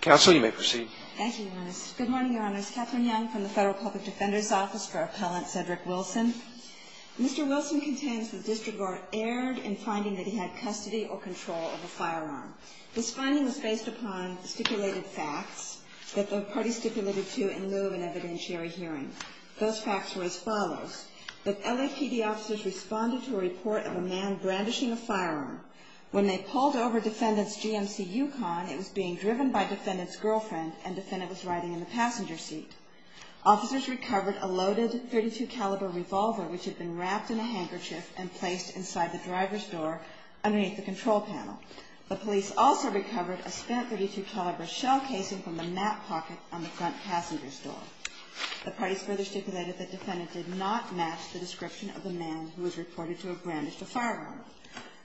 Good morning, Your Honors. Kathryn Young from the Federal Public Defender's Office for Appellant Cedric Wilson. Mr. Wilson contains the district court erred in finding that he had custody or control of a firearm. This finding was based upon stipulated facts that the party stipulated to in lieu of an evidentiary hearing. Those facts were as follows. That LAPD officers responded to a report of a man brandishing a firearm. When they pulled over Defendant's GMC Yukon, it was being driven by Defendant's girlfriend and Defendant was riding in the passenger seat. Officers recovered a loaded .32 caliber revolver which had been wrapped in a handkerchief and placed inside the driver's door underneath the control panel. The police also recovered a spent .32 caliber shell casing from the map pocket on the front passenger's door. The parties further stipulated that Defendant did not match the description of the man who was reported to have brandished a firearm.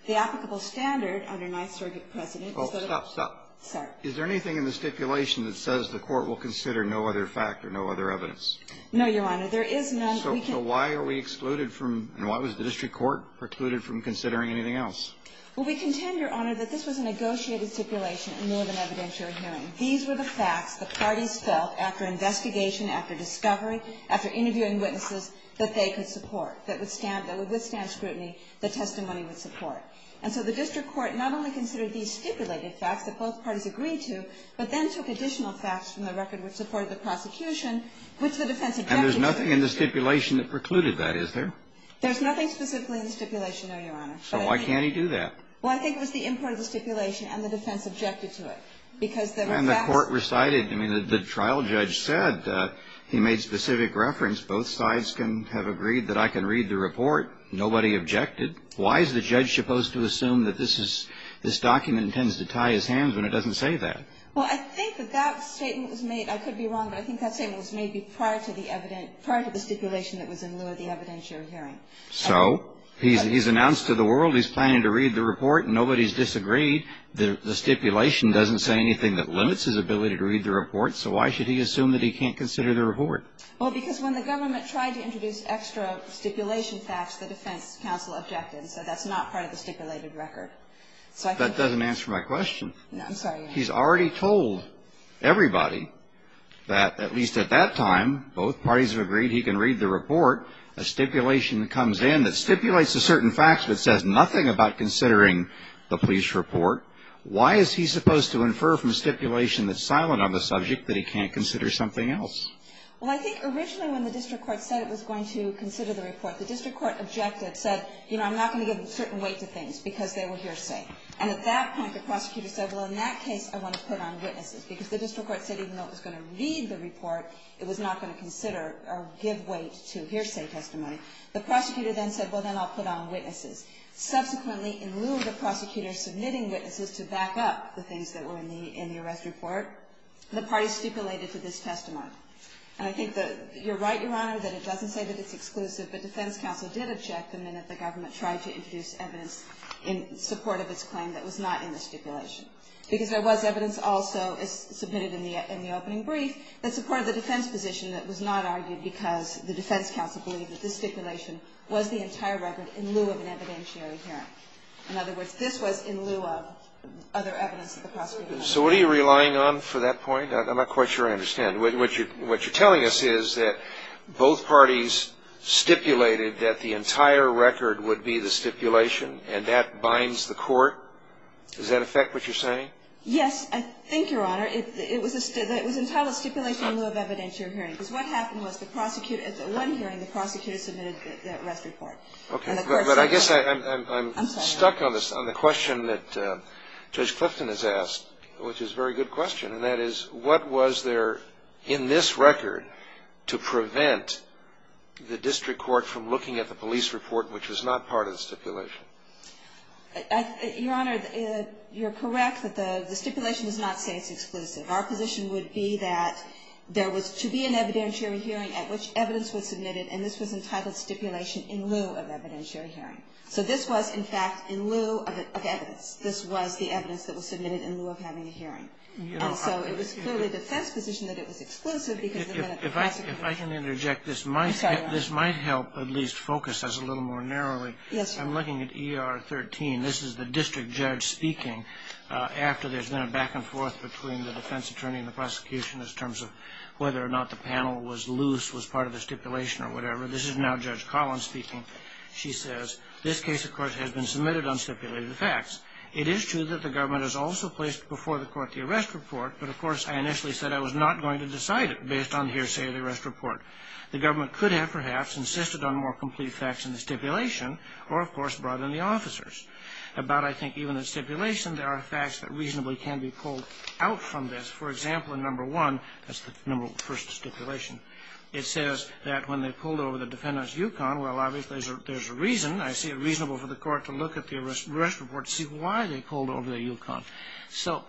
The applicable standard under Ninth Circuit precedent is that a ---- Oh, stop, stop. Sorry. Is there anything in the stipulation that says the Court will consider no other fact or no other evidence? No, Your Honor. There is none. So why are we excluded from and why was the district court precluded from considering anything else? Well, we contend, Your Honor, that this was a negotiated stipulation in lieu of an evidentiary hearing. These were the facts the parties felt after investigation, after discovery, after interviewing witnesses, that they could support, that would withstand scrutiny, the testimony would support. And so the district court not only considered these stipulated facts that both parties agreed to, but then took additional facts from the record which supported the prosecution, which the defense objected to. And there's nothing in the stipulation that precluded that, is there? There's nothing specifically in the stipulation, no, Your Honor. So why can't he do that? Well, I think it was the import of the stipulation and the defense objected to it because there were facts. And the court recited. I mean, the trial judge said he made specific reference. Both sides can have agreed that I can read the report. Nobody objected. Why is the judge supposed to assume that this document intends to tie his hands when it doesn't say that? Well, I think that that statement was made, I could be wrong, but I think that statement was made prior to the stipulation that was in lieu of the evidentiary hearing. So? He's announced to the world he's planning to read the report and nobody's disagreed. The stipulation doesn't say anything that limits his ability to read the report, so why should he assume that he can't consider the report? Well, because when the government tried to introduce extra stipulation facts, the defense counsel objected. So that's not part of the stipulated record. So I think that's the case. That doesn't answer my question. No, I'm sorry, Your Honor. He's already told everybody that, at least at that time, both parties have agreed he can read the report. A stipulation comes in that stipulates a certain fact that says nothing about considering the police report. Why is he supposed to infer from stipulation that's silent on the subject that he can't consider something else? Well, I think originally when the district court said it was going to consider the report, the district court objected, said, you know, I'm not going to give certain weight to things because they were hearsay. And at that point, the prosecutor said, well, in that case, I want to put on witnesses, because the district court said even though it was going to read the report, it was not going to consider or give weight to hearsay testimony. The prosecutor then said, well, then I'll put on witnesses. Subsequently, in lieu of the prosecutor submitting witnesses to back up the things that were in the arrest report, the parties stipulated to this testimony. And I think that you're right, Your Honor, that it doesn't say that it's exclusive, but defense counsel did object the minute the government tried to introduce evidence in support of its claim that was not in the stipulation. Because there was evidence also submitted in the opening brief that supported the defense position that was not argued because the defense counsel believed that this stipulation was the entire record in lieu of an evidentiary hearing. In other words, this was in lieu of other evidence that the prosecutor had. So what are you relying on for that point? I'm not quite sure I understand. What you're telling us is that both parties stipulated that the entire record would be the stipulation, and that binds the court? Does that affect what you're saying? Yes, I think, Your Honor. It was entitled stipulation in lieu of evidentiary hearing. Because what happened was the prosecutor at the one hearing, the prosecutor submitted the arrest report. Okay. But I guess I'm stuck on the question that Judge Clifton has asked, which is a very good question. And that is, what was there in this record to prevent the district court from looking at the police report, which was not part of the stipulation? Your Honor, you're correct that the stipulation does not say it's exclusive. Our position would be that there was to be an evidentiary hearing at which evidence was submitted, and this was entitled stipulation in lieu of evidentiary hearing. So this was, in fact, in lieu of evidence. This was the evidence that was submitted in lieu of having a hearing. And so it was clearly the defense position that it was exclusive because the prosecutor If I can interject, this might help at least focus us a little more narrowly. I'm looking at ER 13. This is the district judge speaking after there's been a back and forth between the defense attorney and the prosecution in terms of whether or not the panel was loose, was part of the stipulation or whatever. This is now Judge Collins speaking. She says, this case, of course, has been submitted on stipulated facts. It is true that the government has also placed before the court the arrest report, but, of course, I initially said I was not going to decide it based on hearsay of the arrest report. The government could have, perhaps, insisted on more complete facts in the stipulation or, of course, brought in the officers. About, I think, even the stipulation, there are facts that reasonably can be pulled out from this. For example, in number one, that's the number one stipulation, it says that when they pulled over the defendant's Yukon, well, obviously, there's a reason. I see it reasonable for the court to look at the arrest report to see why they pulled over the Yukon. So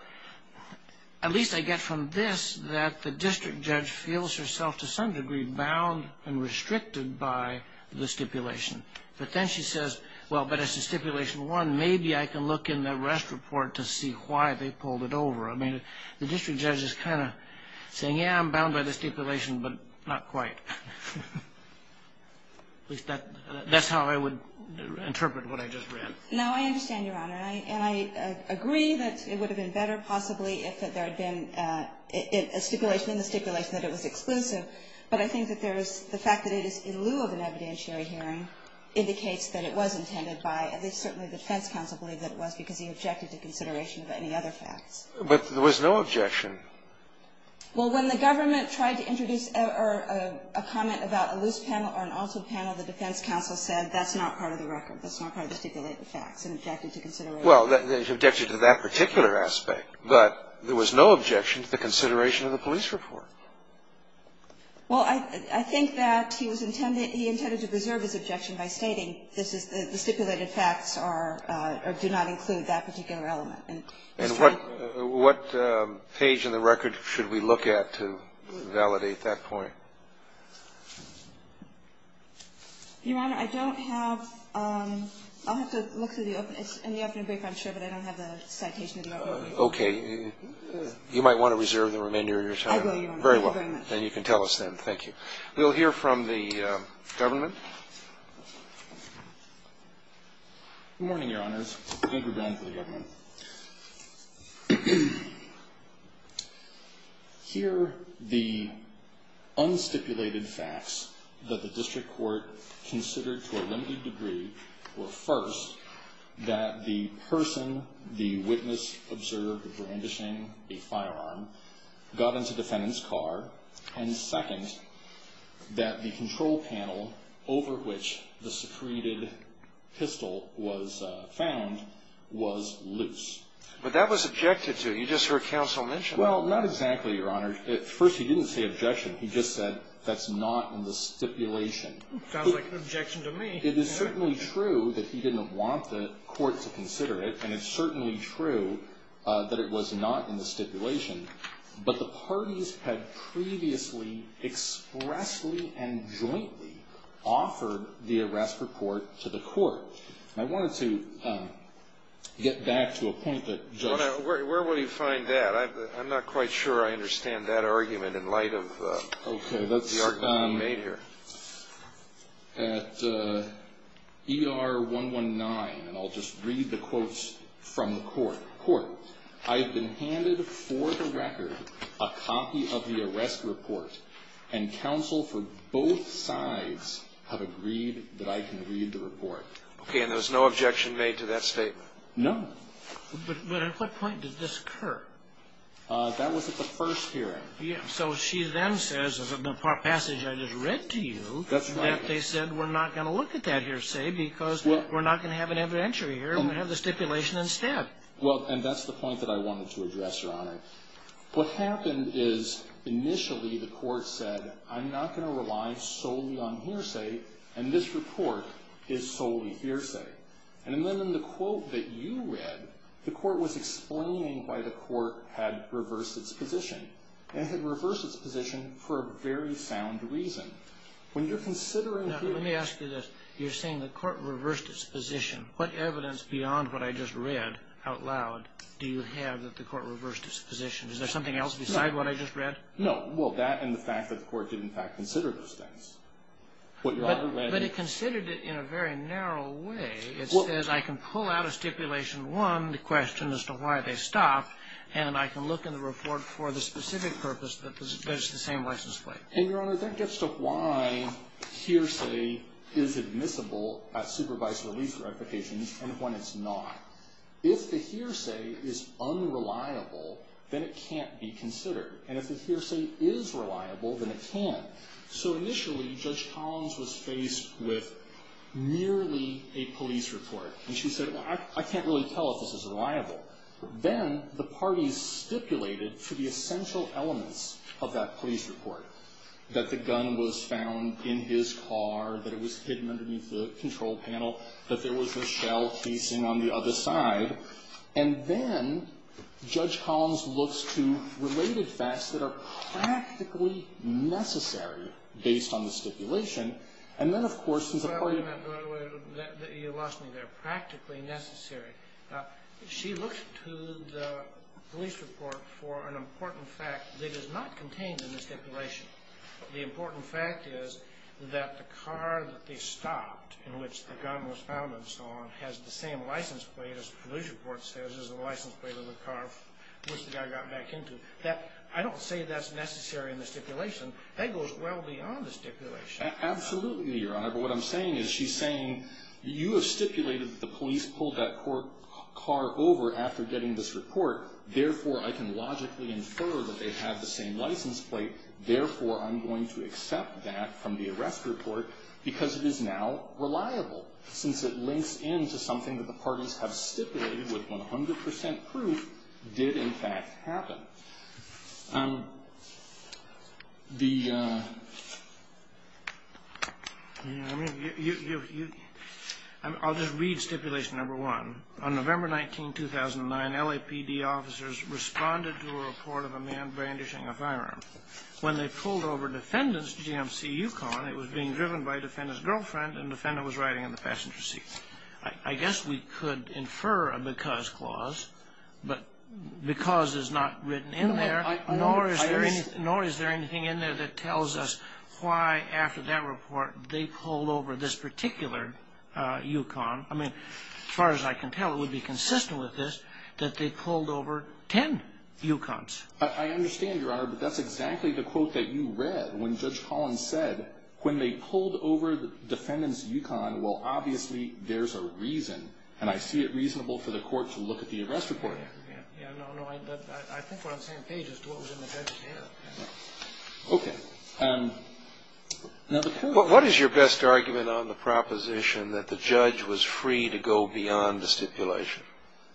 at least I get from this that the district judge feels herself, to some degree, bound and restricted by the stipulation. But then she says, well, but as to stipulation one, maybe I can look in the arrest report to see why they pulled it over. I mean, the district judge is kind of saying, yeah, I'm bound by the stipulation, but not quite. At least that's how I would interpret what I just read. Now, I understand, Your Honor, and I agree that it would have been better, possibly, if there had been a stipulation in the stipulation that it was exclusive. But I think that there is the fact that it is in lieu of an evidentiary hearing indicates that it was intended by, at least certainly the defense counsel believed that it was because he objected to consideration of any other facts. But there was no objection. Well, when the government tried to introduce a comment about a loose panel or an altered panel, the defense counsel said that's not part of the record. That's not part of the stipulated facts and objected to consideration. Well, he objected to that particular aspect, but there was no objection to the consideration of the police report. Well, I think that he was intended to preserve his objection by stating this is the stipulated facts are or do not include that particular element. And what page in the record should we look at to validate that point? Your Honor, I don't have, I'll have to look through the, it's in the afternoon brief, I'm sure, but I don't have the citation of the record. Okay. You might want to reserve the remainder of your time. I will, Your Honor. Very well. Thank you very much. And you can tell us then. Thank you. We'll hear from the government. Good morning, Your Honors. Thank you very much for the government. Here, the unstipulated facts that the district court considered to a limited degree were first, that the person, the witness observed brandishing a firearm got into the defendant's car, and second, that the control panel over which the secreted pistol was found was loose. But that was objected to. You just heard counsel mention that. Well, not exactly, Your Honor. First, he didn't say objection. He just said that's not in the stipulation. Sounds like an objection to me. It is certainly true that he didn't want the court to consider it, and it's certainly true that it was not in the stipulation. But the parties had previously expressly and jointly offered the arrest report to the court. I wanted to get back to a point that, Judge. Where will you find that? I'm not quite sure I understand that argument in light of the argument you made here. Okay. That's at ER 119. And I'll just read the quotes from the court. I have been handed for the record a copy of the arrest report, and counsel for both sides have agreed that I can read the report. Okay. And there's no objection made to that statement? No. But at what point did this occur? That was at the first hearing. So she then says, in the passage I just read to you, that they said we're not going to look at that hearsay because we're not going to have an evidentiary here and we're going to have the stipulation instead. Well, and that's the point that I wanted to address, Your Honor. What happened is initially the court said, I'm not going to rely solely on hearsay, and this report is solely hearsay. And then in the quote that you read, the court was explaining why the court had reversed its position, and it had reversed its position for a very sound reason. When you're considering hearsay. Let me ask you this. You're saying the court reversed its position. What evidence beyond what I just read out loud do you have that the court reversed its position? Is there something else beside what I just read? No. Well, that and the fact that the court did, in fact, consider those things. But it considered it in a very narrow way. It says I can pull out a stipulation one, the question as to why they stopped, and I can look in the report for the specific purpose that it's the same license plate. And, Your Honor, that gets to why hearsay is admissible at supervised release for applications and when it's not. If the hearsay is unreliable, then it can't be considered. And if the hearsay is reliable, then it can. So initially, Judge Collins was faced with merely a police report, and she said, I can't really tell if this is reliable. Then the parties stipulated for the essential elements of that police report that the gun was found in his car, that it was hidden underneath the control panel, that there was a shell casing on the other side. And then Judge Collins looks to related facts that are practically necessary based on the stipulation. And then, of course, since the parties ---- Well, you lost me there. Practically necessary. She looks to the police report for an important fact that is not contained in the stipulation. The important fact is that the car that they stopped in which the gun was found and so on has the same license plate, as the police report says, as the license plate of the car which the guy got back into. I don't say that's necessary in the stipulation. Absolutely, Your Honor. But what I'm saying is she's saying you have stipulated that the police pulled that car over after getting this report. Therefore, I can logically infer that they have the same license plate. Therefore, I'm going to accept that from the arrest report because it is now reliable, since it links into something that the parties have stipulated with 100 percent proof did, in fact, happen. The ---- I'll just read stipulation number one. On November 19, 2009, LAPD officers responded to a report of a man brandishing a firearm. When they pulled over defendant's GMC Yukon, it was being driven by defendant's girlfriend and the defendant was riding in the passenger seat. I guess we could infer a because clause, but because is not written in there, nor is there anything in there that tells us why, after that report, they pulled over this particular Yukon. I mean, as far as I can tell, it would be consistent with this, that they pulled over ten Yukons. I understand, Your Honor, but that's exactly the quote that you read when Judge Collins said, when they pulled over defendant's Yukon, well, obviously, there's a reason, and I see it reasonable for the court to look at the arrest report. Yeah, no, no. I think we're on the same page as to what was in the judge's hand. Okay. Now, the point is ---- What is your best argument on the proposition that the judge was free to go beyond the stipulation?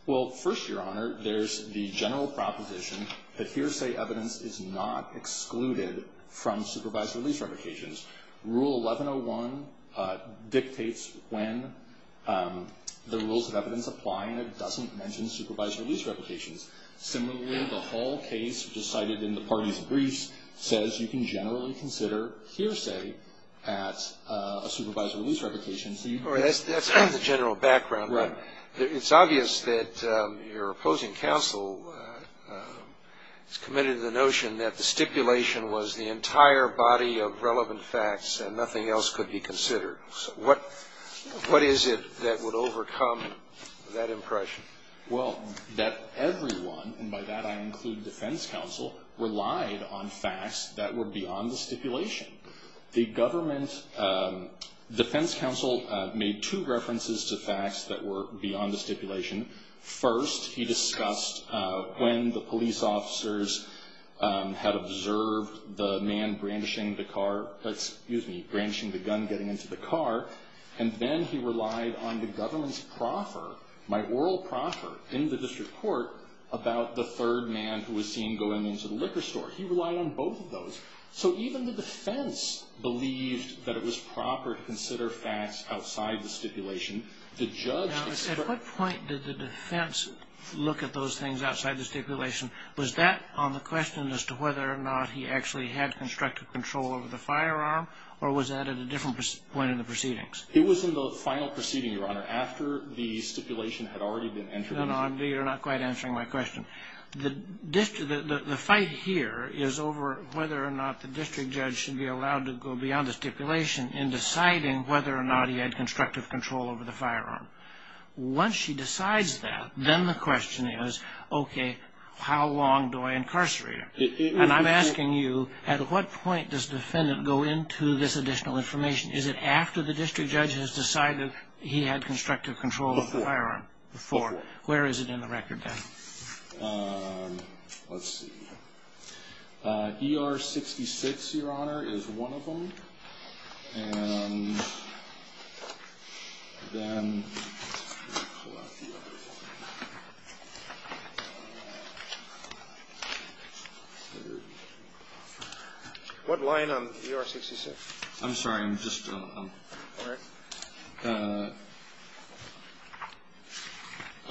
Well, first, Your Honor, there's the general proposition that hearsay evidence is not excluded from supervised release revocations. Rule 1101 dictates when the rules of evidence apply, and it doesn't mention supervised release revocations. Similarly, the whole case, which is cited in the parties' briefs, says you can generally consider hearsay at a supervised release revocation. That's kind of the general background. Right. It's obvious that your opposing counsel is committed to the notion that the stipulation was the entire body of relevant facts and nothing else could be considered. What is it that would overcome that impression? Well, that everyone, and by that I include defense counsel, relied on facts that were beyond the stipulation. The defense counsel made two references to facts that were beyond the stipulation. First, he discussed when the police officers had observed the man brandishing the car ---- excuse me, brandishing the gun getting into the car, and then he relied on the government's proffer, my oral proffer in the district court, about the third man who was seen going into the liquor store. He relied on both of those. So even the defense believed that it was proper to consider facts outside the stipulation. Now, at what point did the defense look at those things outside the stipulation? Was that on the question as to whether or not he actually had constructive control over the firearm, or was that at a different point in the proceedings? It was in the final proceeding, Your Honor, after the stipulation had already been entered into. No, no, you're not quite answering my question. The fight here is over whether or not the district judge should be allowed to go beyond the stipulation in deciding whether or not he had constructive control over the firearm. Once she decides that, then the question is, okay, how long do I incarcerate him? And I'm asking you, at what point does the defendant go into this additional information? Is it after the district judge has decided he had constructive control of the firearm? Before. Before. Where is it in the record, then? Let's see. ER-66, Your Honor, is one of them. And then let me pull out the other one. What line on ER-66? I'm sorry. I'm just. All right.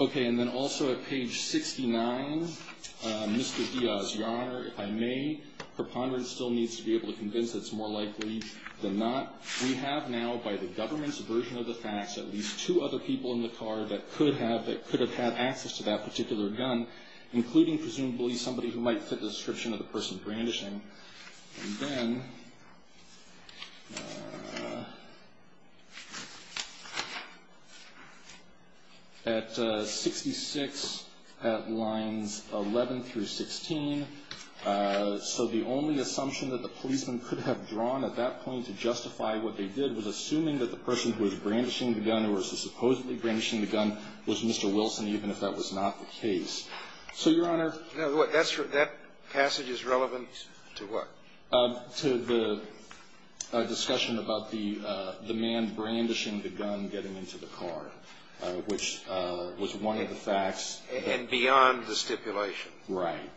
Okay. And then also at page 69, Mr. Diaz, Your Honor, if I may, preponderance still needs to be able to convince that it's more likely than not. We have now, by the government's version of the facts, at least two other people in the car that could have had access to that particular gun, including presumably somebody who might fit the description of the person brandishing. And then at 66, at lines 11 through 16, so the only assumption that the policeman could have drawn at that point to justify what they did was assuming that the person who was brandishing the gun, who was supposedly brandishing the gun, was Mr. Wilson, even if that was not the case. So, Your Honor. That passage is relevant to what? To the discussion about the man brandishing the gun getting into the car, which was one of the facts. And beyond the stipulation. Right.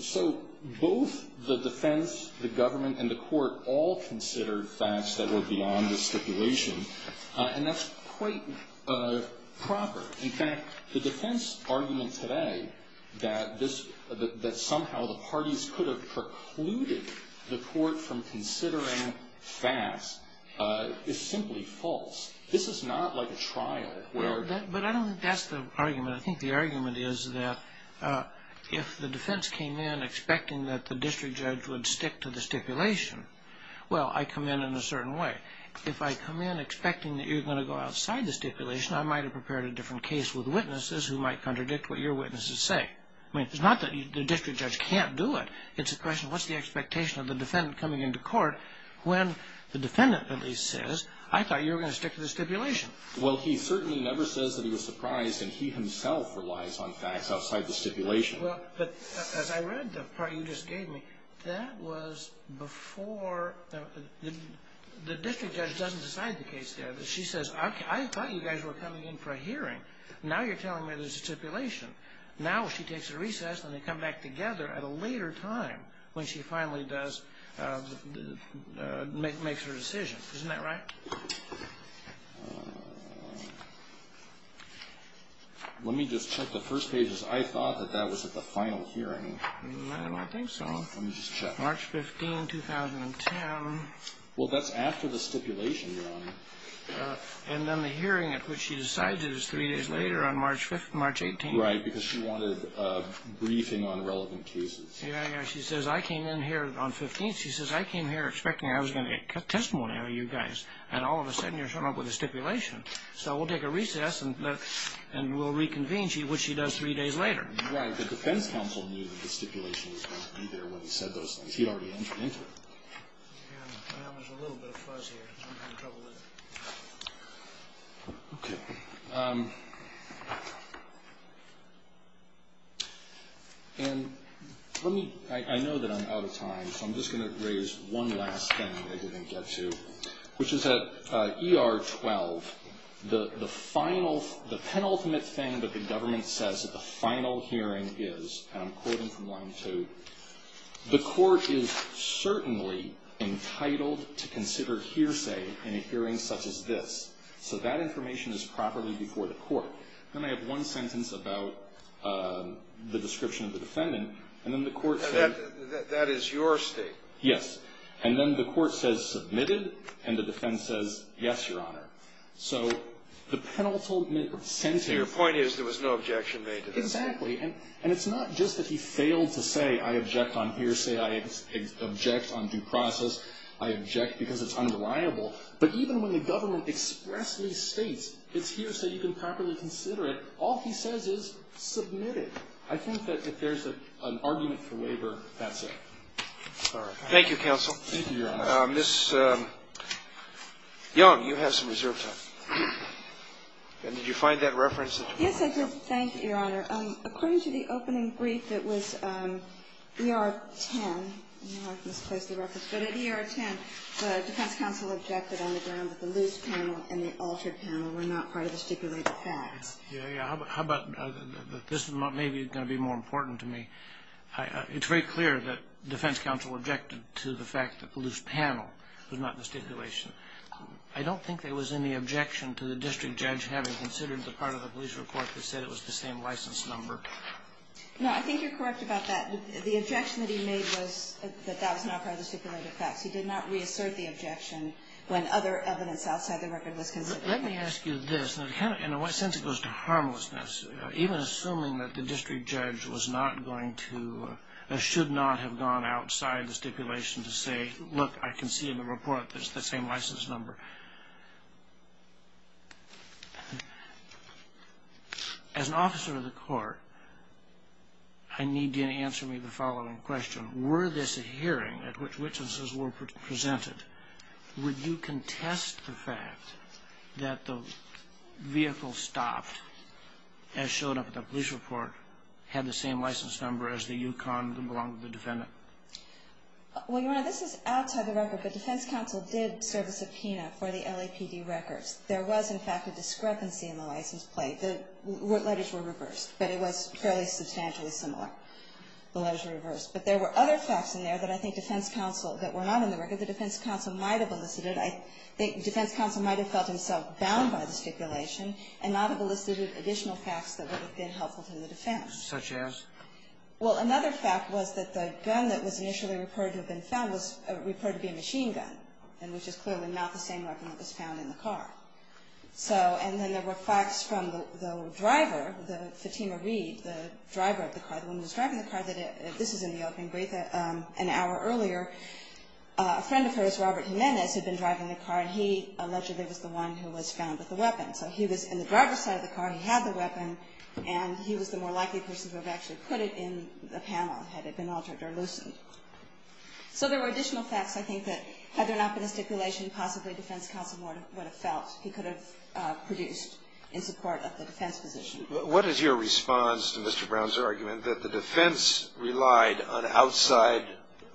So both the defense, the government, and the court all considered facts that were beyond the stipulation, and that's quite proper. In fact, the defense argument today that somehow the parties could have precluded the court from considering facts is simply false. This is not like a trial. But I don't think that's the argument. I think the argument is that if the defense came in expecting that the district judge would stick to the stipulation, well, I come in in a certain way. If I come in expecting that you're going to go outside the stipulation, I might have prepared a different case with witnesses who might contradict what your witnesses say. I mean, it's not that the district judge can't do it. It's a question of what's the expectation of the defendant coming into court when the defendant at least says, I thought you were going to stick to the stipulation. Well, he certainly never says that he was surprised, and he himself relies on facts outside the stipulation. Well, but as I read the part you just gave me, that was before the district judge doesn't decide the case there. She says, I thought you guys were coming in for a hearing. Now you're telling me there's a stipulation. Now she takes a recess, and they come back together at a later time when she finally makes her decision. Isn't that right? Let me just check the first pages. I thought that that was at the final hearing. I don't think so. Let me just check. March 15, 2010. Well, that's after the stipulation, Your Honor. And then the hearing at which she decides it is three days later on March 18th. Right, because she wanted a briefing on relevant cases. Yeah, yeah. She says, I came in here on 15th. She says, I came here expecting I was going to get testimony out of you guys. And all of a sudden you're showing up with a stipulation. So we'll take a recess, and we'll reconvene, which she does three days later. Right. The defense counsel knew that the stipulation was going to be there when he said those things. He'd already entered into it. Well, there's a little bit of fuzz here. I'm having trouble with it. Okay. And let me – I know that I'm out of time. So I'm just going to raise one last thing I didn't get to, which is that ER-12, the final – the penultimate thing that the government says at the final hearing is, and I'm quoting from line two, the court is certainly entitled to consider hearsay in a hearing such as this. So that information is properly before the court. Then I have one sentence about the description of the defendant. And then the court said – Yes. And then the court says, submitted. And the defense says, yes, Your Honor. So the penultimate sentence – Your point is there was no objection made to that. Exactly. And it's not just that he failed to say, I object on hearsay. I object on due process. I object because it's unreliable. But even when the government expressly states, it's hearsay, you can properly consider it, all he says is, submitted. I think that if there's an argument for waiver, that's it. All right. Thank you, counsel. Thank you, Your Honor. Ms. Young, you have some reserve time. And did you find that reference? Yes, I did. Thank you, Your Honor. According to the opening brief, it was ER-10. I know I misplaced the reference. But at ER-10, the defense counsel objected on the ground that the loose panel and the altered panel were not part of the stipulated facts. Yeah, yeah. How about – this is maybe going to be more important to me. It's very clear that defense counsel objected to the fact that loose panel was not in the stipulation. I don't think there was any objection to the district judge having considered the part of the police report that said it was the same license number. No, I think you're correct about that. The objection that he made was that that was not part of the stipulated facts. He did not reassert the objection when other evidence outside the record was considered. Let me ask you this. In a sense, it goes to harmlessness. Even assuming that the district judge was not going to or should not have gone outside the stipulation to say, look, I can see in the report that it's the same license number. As an officer of the court, I need you to answer me the following question. Were this a hearing at which witnesses were presented, would you contest the fact that the vehicle stopped, as showed up in the police report, had the same license number as the Yukon that belonged to the defendant? Well, Your Honor, this is outside the record, but defense counsel did serve a subpoena for the LAPD records. There was, in fact, a discrepancy in the license plate. The letters were reversed, but it was fairly substantially similar. The letters were reversed. But there were other facts in there that I think defense counsel, that were not in the record that defense counsel might have elicited. I think defense counsel might have felt himself bound by the stipulation and not have elicited additional facts that would have been helpful to the defense. Such as? Well, another fact was that the gun that was initially reported to have been found was reported to be a machine gun, and which is clearly not the same weapon that was found in the car. So, and then there were facts from the driver, the Fatima Reed, the driver of the car, the woman who was driving the car, that this is in the open brief an hour earlier. A friend of hers, Robert Jimenez, had been driving the car, and he allegedly was the one who was found with the weapon. So he was in the driver's side of the car, he had the weapon, and he was the more likely person to have actually put it in the panel had it been altered or loosened. So there were additional facts, I think, that had there not been a stipulation, possibly defense counsel would have felt he could have produced in support of the defense position. What is your response to Mr. Brown's argument that the defense relied on outside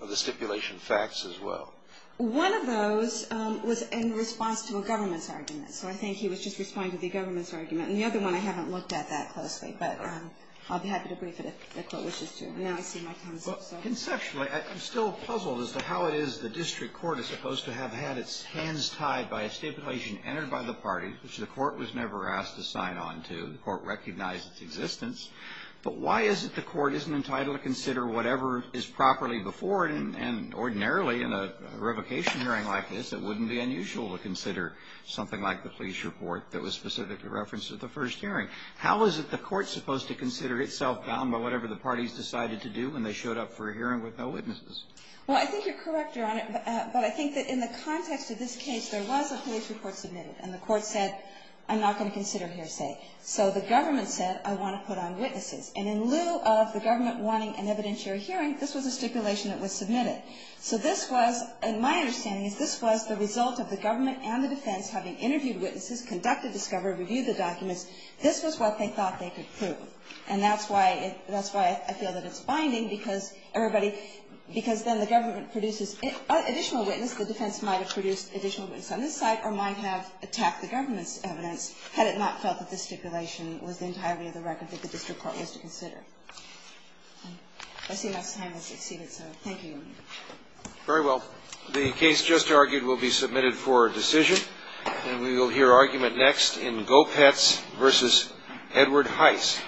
of the stipulation facts as well? One of those was in response to a government's argument. So I think he was just responding to the government's argument. And the other one I haven't looked at that closely. But I'll be happy to brief it if the Court wishes to. Now I see my time is up. Conceptually, I'm still puzzled as to how it is the district court is supposed to have had its hands tied by a stipulation entered by the party, which the Court was never asked to sign on to. The Court recognized its existence. But why is it the Court isn't entitled to consider whatever is properly before it? And ordinarily in a revocation hearing like this, it wouldn't be unusual to consider something like the police report that was specifically referenced at the first hearing. How is it the Court is supposed to consider itself bound by whatever the parties decided to do when they showed up for a hearing with no witnesses? Well, I think you're correct, Your Honor. But I think that in the context of this case, there was a police report submitted and the Court said, I'm not going to consider hearsay. So the government said, I want to put on witnesses. And in lieu of the government wanting an evidentiary hearing, this was a stipulation that was submitted. So this was, in my understanding, this was the result of the government and the defense having interviewed witnesses, conducted discovery, reviewed the documents. This was what they thought they could prove. And that's why I feel that it's binding, because then the government produces additional witness, the defense might have produced additional witness on this case to attack the government's evidence, had it not felt that this stipulation was entirely the record that the district court was to consider. I see enough time. Thank you, Your Honor. Very well. The case just argued will be submitted for decision. And we will hear argument next in Gopetz v. Edward Heiss.